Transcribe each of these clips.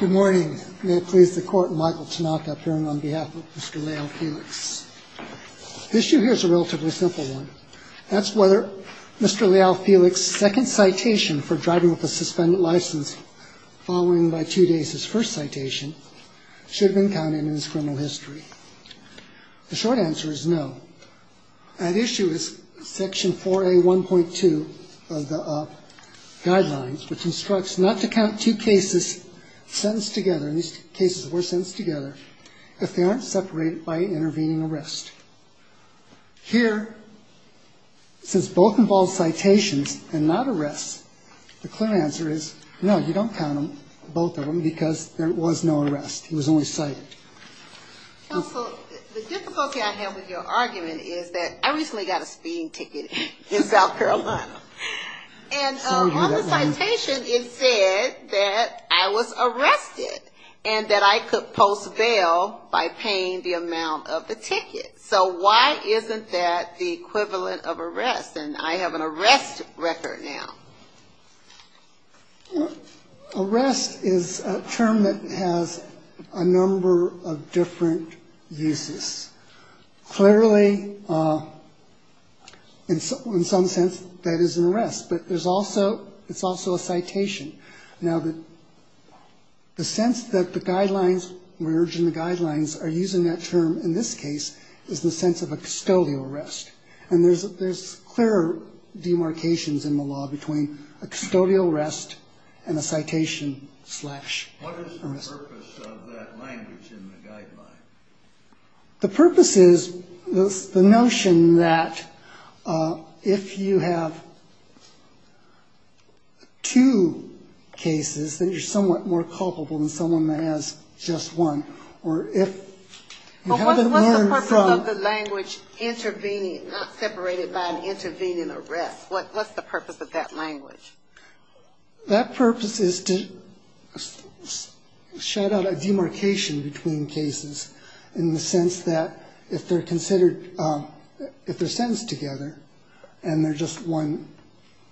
Good morning. May it please the Court, Michael Tanaka appearing on behalf of Mr. Leal-Felix. The issue here is a relatively simple one. That's whether Mr. Leal-Felix's second citation for driving with a suspended license following by two days his first citation should have been counted in his criminal history. The short answer is no. That issue is Section 4A.1.2 of the guidelines, which instructs not to count two cases sentenced together, and these cases were sentenced together, if they aren't separated by intervening arrest. Here, since both involve citations and not arrests, the clear answer is no, you don't count them, both of them, because there was no arrest. He was only cited. Counsel, the difficulty I have with your argument is that I recently got a speeding ticket in South Carolina. And on the citation, it said that I was arrested and that I could post bail by paying the amount of the ticket. So why isn't that the equivalent of arrest? And I have an arrest record now. Arrest is a term that has a number of different uses. Clearly, in some sense, that is an arrest, but it's also a citation. Now, the sense that the guidelines, we're urging the guidelines are using that term in this case is the sense of a custodial arrest. And there's clear demarcations in the law between a custodial arrest and a citation slash arrest. What is the purpose of that language in the guideline? The purpose is the notion that if you have two cases, then you're somewhat more culpable than someone that has just one. Well, what's the purpose of the language intervening, not separated by an intervening arrest? What's the purpose of that language? That purpose is to shout out a demarcation between cases in the sense that if they're considered, if they're sentenced together and they're just one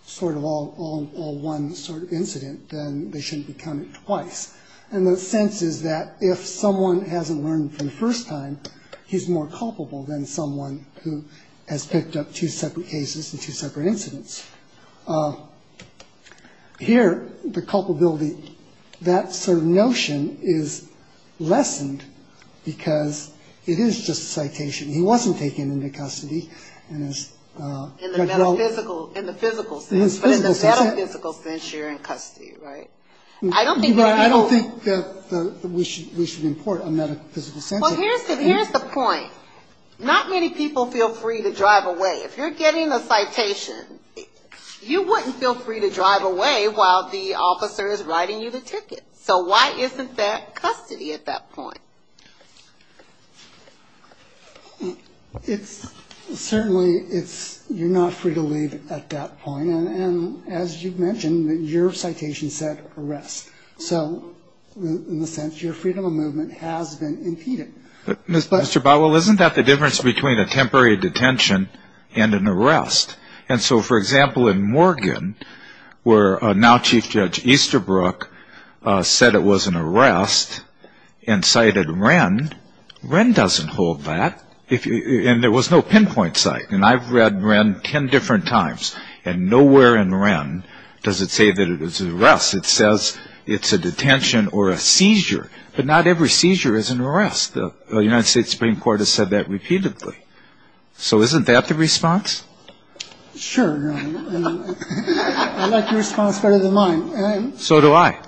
sort of all one sort of incident, then they shouldn't be counted twice. And the sense is that if someone hasn't learned for the first time, he's more culpable than someone who has picked up two separate cases and two separate incidents. Here, the culpability, that notion is lessened because it is just a citation. He wasn't taken into custody. In the metaphysical sense, but in the metaphysical sense, you're in custody, right? I don't think that we should import a metaphysical sense. Well, here's the point. Not many people feel free to drive away. If you're getting a citation, you wouldn't feel free to drive away while the officer is writing you the ticket. So why isn't there custody at that point? It's certainly it's you're not free to leave at that point. And as you've mentioned, your citation said arrest. So in a sense, your freedom of movement has been impeded. Mr. Bowell, isn't that the difference between a temporary detention and an arrest? And so, for example, in Morgan, where now Chief Judge Easterbrook said it was an arrest and cited Wren, Wren doesn't hold that. And there was no pinpoint site. And I've read Wren 10 different times. And nowhere in Wren does it say that it was an arrest. It says it's a detention or a seizure. But not every seizure is an arrest. The United States Supreme Court has said that repeatedly. So isn't that the response? Sure. I like your response better than mine. So do I.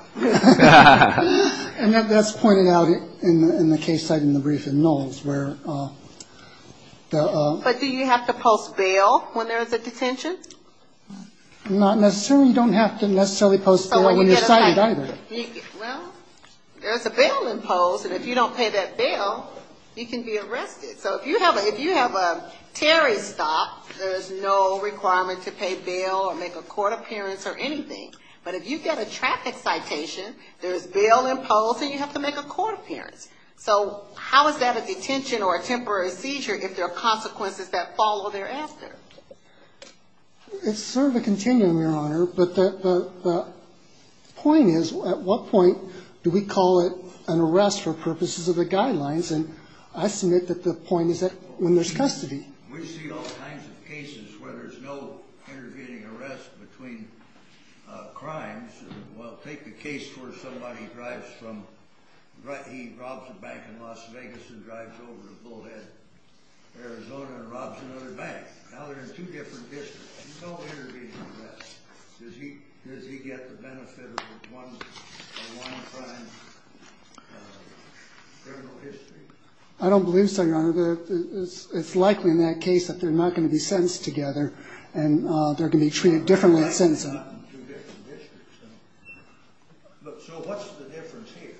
And that's pointed out in the case cited in the brief in Knowles where the. But do you have to post bail when there is a detention? Not necessarily. You don't have to necessarily post bail when you're cited either. Well, there's a bail imposed. And if you don't pay that bail, you can be arrested. So if you have a Terry stop, there's no requirement to pay bail or make a court appearance or anything. But if you get a traffic citation, there's bail imposed and you have to make a court appearance. So how is that a detention or a temporary seizure if there are consequences that follow thereafter? It's sort of a continuum, Your Honor. But the point is, at what point do we call it an arrest for purposes of the guidelines? And I submit that the point is that when there's custody. We see all kinds of cases where there's no intervening arrest between crimes. Well, take the case where somebody drives from. He robs a bank in Las Vegas and drives over to Bullhead, Arizona and robs another bank. Now they're in two different districts. No intervening arrest. Does he get the benefit of one crime? There's no history. I don't believe so, Your Honor. It's likely in that case that they're not going to be sentenced together and they're going to be treated differently. So what's the difference here?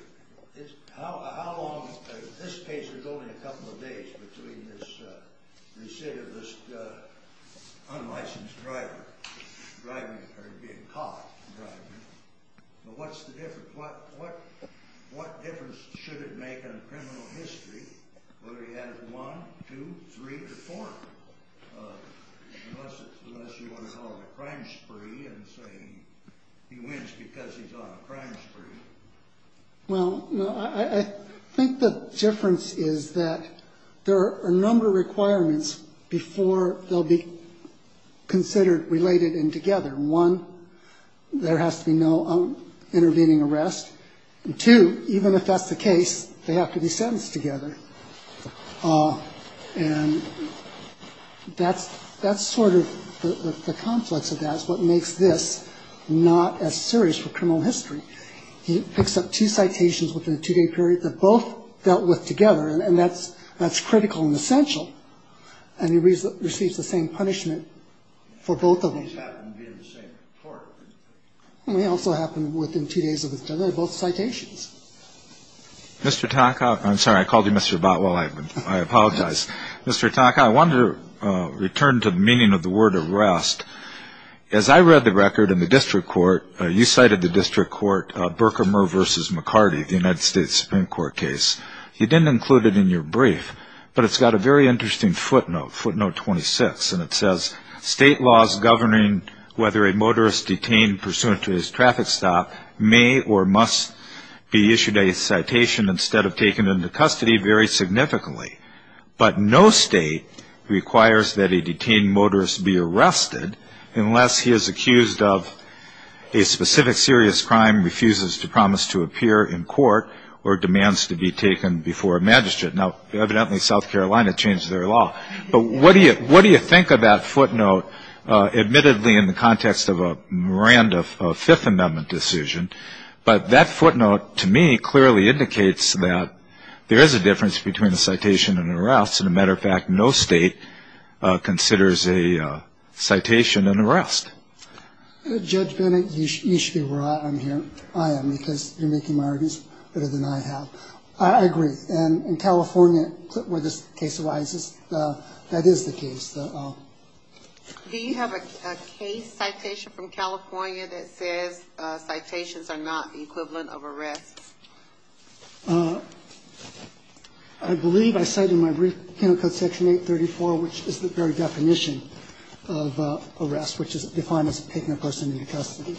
In this case, there's only a couple of days between this unlicensed driver being caught driving. But what's the difference? What difference should it make on criminal history whether he has one, two, three, or four? Unless you want to call it a crime spree and say he wins because he's on a crime spree. Well, I think the difference is that there are a number of requirements before they'll be considered related and together. One, there has to be no intervening arrest. And two, even if that's the case, they have to be sentenced together. And that's sort of the complex of that is what makes this not as serious for criminal history. He picks up two citations within a two-day period that both dealt with together, and that's critical and essential. And he receives the same punishment for both of them. And they also happen within two days of each other, both citations. Mr. Tonka, I'm sorry, I called you Mr. Botwell. I apologize. Mr. Tonka, I wanted to return to the meaning of the word arrest. As I read the record in the district court, you cited the district court, Berkemer v. McCarty, the United States Supreme Court case. You didn't include it in your brief, but it's got a very interesting footnote, footnote 26, and it says state laws governing whether a motorist detained pursuant to his traffic stop may or must be issued a citation instead of taken into custody vary significantly. But no state requires that a detained motorist be arrested unless he is accused of a specific serious crime, refuses to promise to appear in court, or demands to be taken before a magistrate. Now, evidently, South Carolina changed their law. But what do you think of that footnote? Admittedly, in the context of a Miranda Fifth Amendment decision, but that footnote to me clearly indicates that there is a difference between a citation and an arrest. As a matter of fact, no state considers a citation an arrest. Judge Bennett, you should be reliant on hearing I am because you're making my arguments better than I have. I agree. And in California, where this case arises, that is the case. Do you have a case citation from California that says citations are not the equivalent of arrests? I believe I cite in my brief Penal Code Section 834, which is the very definition of arrest, which is defined as taking a person into custody.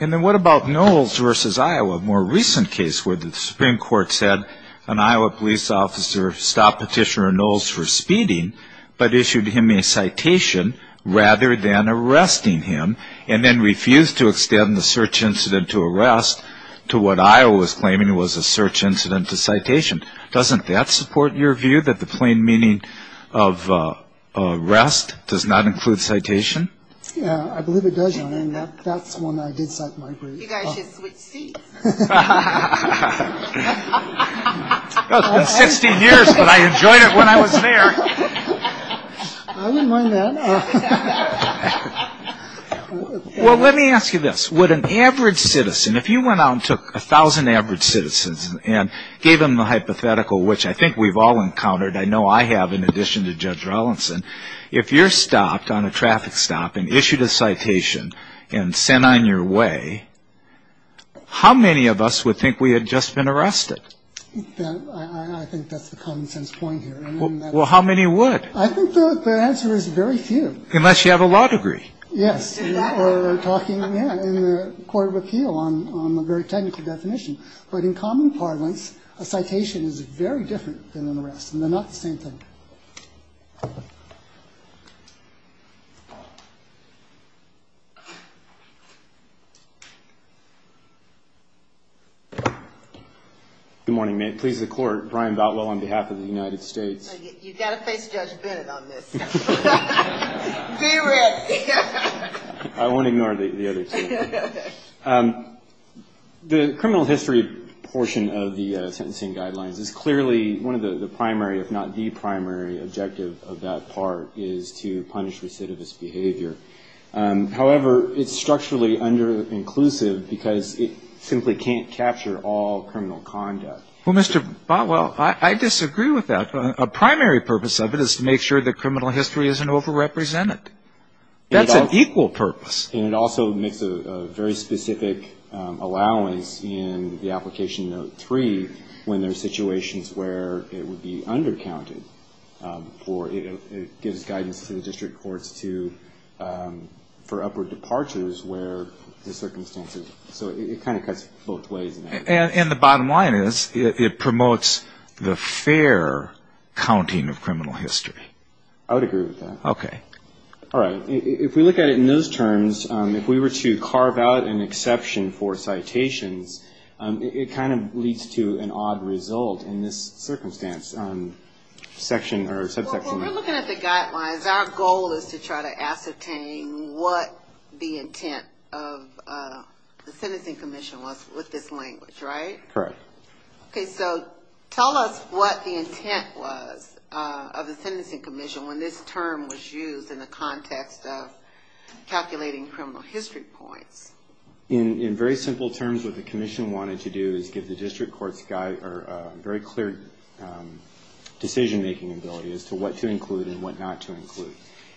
And then what about Knowles v. Iowa, a more recent case where the Supreme Court said an Iowa police officer stopped Petitioner Knowles for speeding but issued him a citation rather than arresting him and then refused to extend the search incident to arrest to what Iowa was claiming was a search incident to citation. Doesn't that support your view that the plain meaning of arrest does not include citation? Yeah, I believe it does, Your Honor, and that's one I did cite in my brief. You guys should switch seats. It's been 16 years, but I enjoyed it when I was there. I wouldn't mind that. Well, let me ask you this. Would an average citizen, if you went out and took 1,000 average citizens and gave them a hypothetical, which I think we've all encountered, I know I have in addition to Judge Rollinson, if you're stopped on a traffic stop and issued a citation and sent on your way, how many of us would think we had just been arrested? I think that's the common sense point here. Well, how many would? I think the answer is very few. Unless you have a law degree. Yes, or talking in the Court of Appeal on a very technical definition. But in common parlance, a citation is very different than an arrest, and they're not the same thing. Good morning. May it please the Court, Brian Boutwell on behalf of the United States. You've got to face Judge Bennett on this. Be ready. I won't ignore the others. The criminal history portion of the sentencing guidelines is clearly one of the primary, if not the primary objective of that part, is to punish recidivist behavior. However, it's structurally under-inclusive because it simply can't capture all criminal conduct. Well, Mr. Boutwell, I disagree with that. A primary purpose of it is to make sure that criminal history isn't overrepresented. That's an equal purpose. And it also makes a very specific allowance in the Application Note 3 when there are situations where it would be under-counted. It gives guidance to the district courts for upward departures where the circumstances. So it kind of cuts both ways. And the bottom line is it promotes the fair counting of criminal history. I would agree with that. Okay. All right. If we look at it in those terms, if we were to carve out an exception for citations, it kind of leads to an odd result in this circumstance, section or subsection. When we're looking at the guidelines, our goal is to try to ascertain what the intent of the Sentencing Commission was with this language, right? Correct. Okay. So tell us what the intent was of the Sentencing Commission when this term was used in the context of calculating criminal history points. In very simple terms, what the commission wanted to do is give the district courts a very clear decision-making ability as to what to include and what not to include.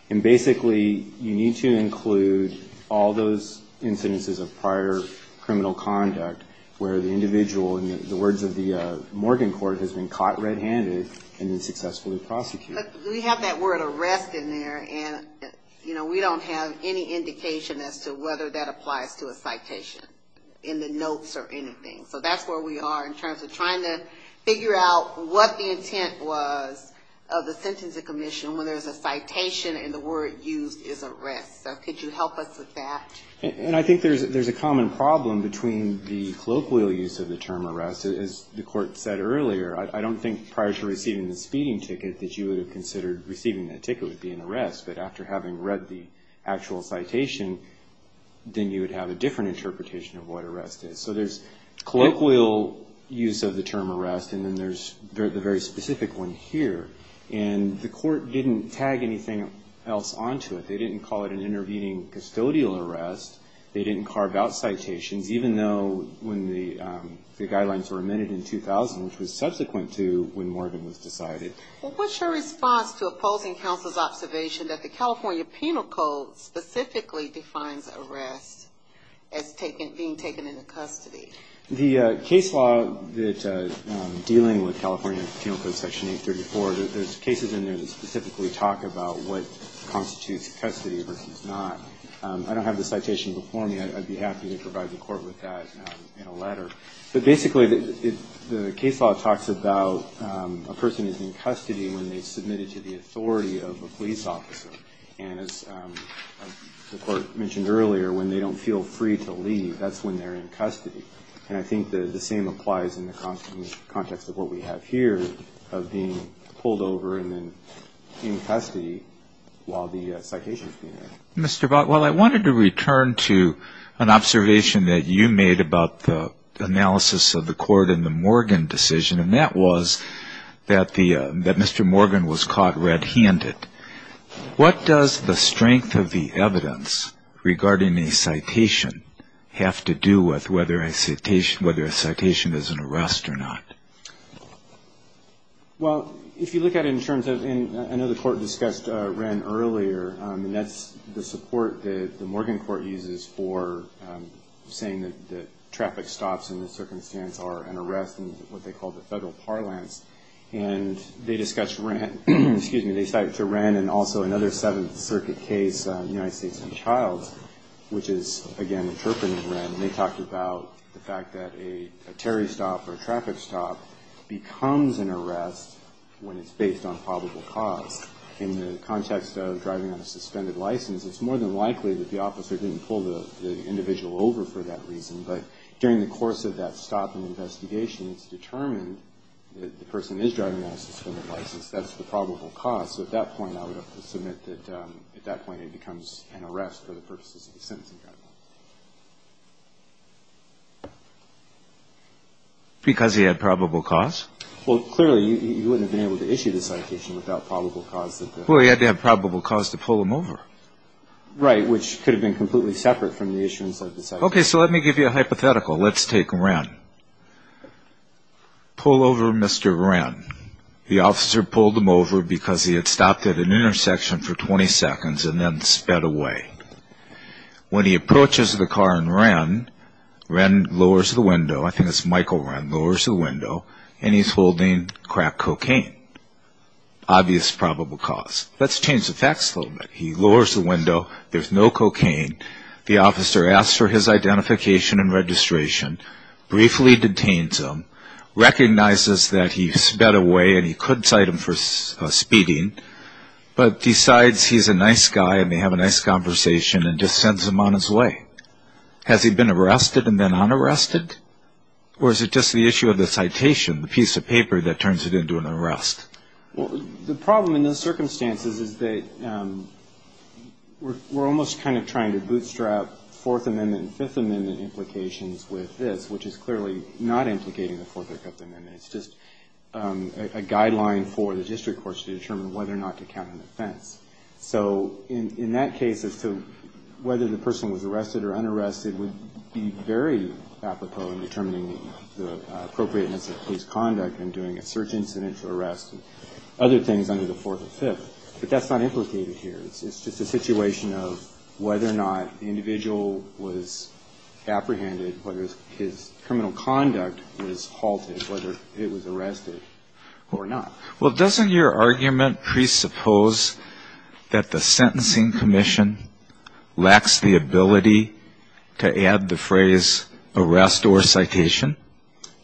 And basically, you need to include all those incidences of prior criminal conduct where the individual, in the words of the Morgan Court, has been caught red-handed and then successfully prosecuted. But we have that word arrest in there, and we don't have any indication as to whether that applies to a citation in the notes or anything. So that's where we are in terms of trying to figure out what the intent was of the Sentencing Commission when there's a citation and the word used is arrest. So could you help us with that? And I think there's a common problem between the colloquial use of the term arrest. As the Court said earlier, I don't think prior to receiving the speeding ticket that you would have considered receiving that ticket would be an arrest. But after having read the actual citation, then you would have a different interpretation of what arrest is. So there's colloquial use of the term arrest, and then there's the very specific one here. And the Court didn't tag anything else onto it. They didn't call it an intervening custodial arrest. They didn't carve out citations, even though when the guidelines were amended in 2000, which was subsequent to when Morgan was decided. Well, what's your response to opposing counsel's observation that the California Penal Code specifically defines arrest as being taken into custody? The case law dealing with California Penal Code Section 834, there's cases in there that specifically talk about what constitutes custody versus not. I don't have the citation before me. I'd be happy to provide the Court with that in a letter. But basically the case law talks about a person is in custody when they're submitted to the authority of a police officer. And as the Court mentioned earlier, when they don't feel free to leave, that's when they're in custody. And I think the same applies in the context of what we have here of being pulled over and then in custody while the citation is being read. Mr. Bott, well, I wanted to return to an observation that you made about the analysis of the Court and the Morgan decision, and that was that Mr. Morgan was caught red-handed. What does the strength of the evidence regarding a citation have to do with whether a citation is an arrest or not? Well, if you look at it in terms of, and I know the Court discussed Wren earlier, and that's the support that the Morgan Court uses for saying that traffic stops in this circumstance are an arrest in what they call the federal parlance. And they discussed Wren, and also another Seventh Circuit case, United States v. Childs, which is, again, interpreting Wren. And they talked about the fact that a Terry stop or a traffic stop becomes an arrest when it's based on probable cause. In the context of driving on a suspended license, it's more than likely that the officer didn't pull the individual over for that reason. But during the course of that stop and investigation, it's determined that the person is driving on a suspended license. That's the probable cause. So at that point, I would submit that at that point it becomes an arrest for the purposes of the sentencing. Because he had probable cause? Well, clearly, you wouldn't have been able to issue the citation without probable cause. Well, he had to have probable cause to pull him over. Right, which could have been completely separate from the issuance of the citation. Okay, so let me give you a hypothetical. Let's take Wren. Pull over Mr. Wren. The officer pulled him over because he had stopped at an intersection for 20 seconds and then sped away. When he approaches the car in Wren, Wren lowers the window, I think it's Michael Wren, lowers the window, and he's holding crack cocaine. Obvious probable cause. Let's change the facts a little bit. He lowers the window, there's no cocaine, the officer asks for his identification and registration, briefly detains him, recognizes that he sped away and he could cite him for speeding, but decides he's a nice guy and they have a nice conversation and just sends him on his way. Has he been arrested and then unarrested? Or is it just the issue of the citation, the piece of paper that turns it into an arrest? Well, the problem in those circumstances is that we're almost kind of trying to bootstrap Fourth Amendment and Fifth Amendment implications with this, which is clearly not implicating the Fourth Amendment. It's just a guideline for the district courts to determine whether or not to count an offense. So in that case as to whether the person was arrested or unarrested would be very apropos in determining the appropriateness of police conduct and doing a search incident for arrest and other things under the Fourth and Fifth. But that's not implicated here. It's just a situation of whether or not the individual was apprehended, whether his criminal conduct was halted, whether it was arrested or not. Well, doesn't your argument presuppose that the Sentencing Commission lacks the ability to add the phrase arrest or citation?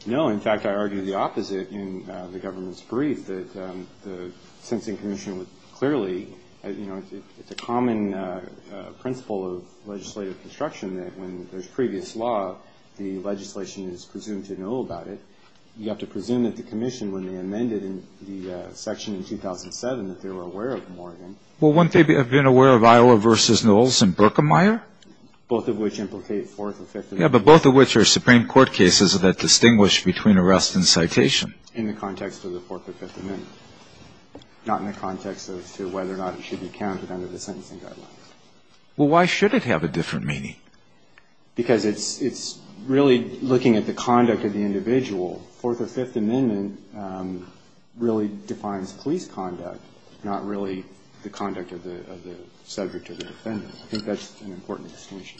No. In fact, I argue the opposite in the government's brief, that the Sentencing Commission would clearly, you know, it's a common principle of legislative construction that when there's previous law, the legislation is presumed to know about it. You have to presume that the commission, when they amended the section in 2007, that they were aware of Morgan. Well, wouldn't they have been aware of Iowa v. Knowles and Berkemeyer? Both of which implicate Fourth and Fifth Amendment. Yeah, but both of which are Supreme Court cases that distinguish between arrest and citation. In the context of the Fourth or Fifth Amendment. Not in the context as to whether or not it should be counted under the sentencing guidelines. Well, why should it have a different meaning? Because it's really looking at the conduct of the individual. Fourth or Fifth Amendment really defines police conduct, not really the conduct of the subject or the defendant. I think that's an important distinction. Thank you.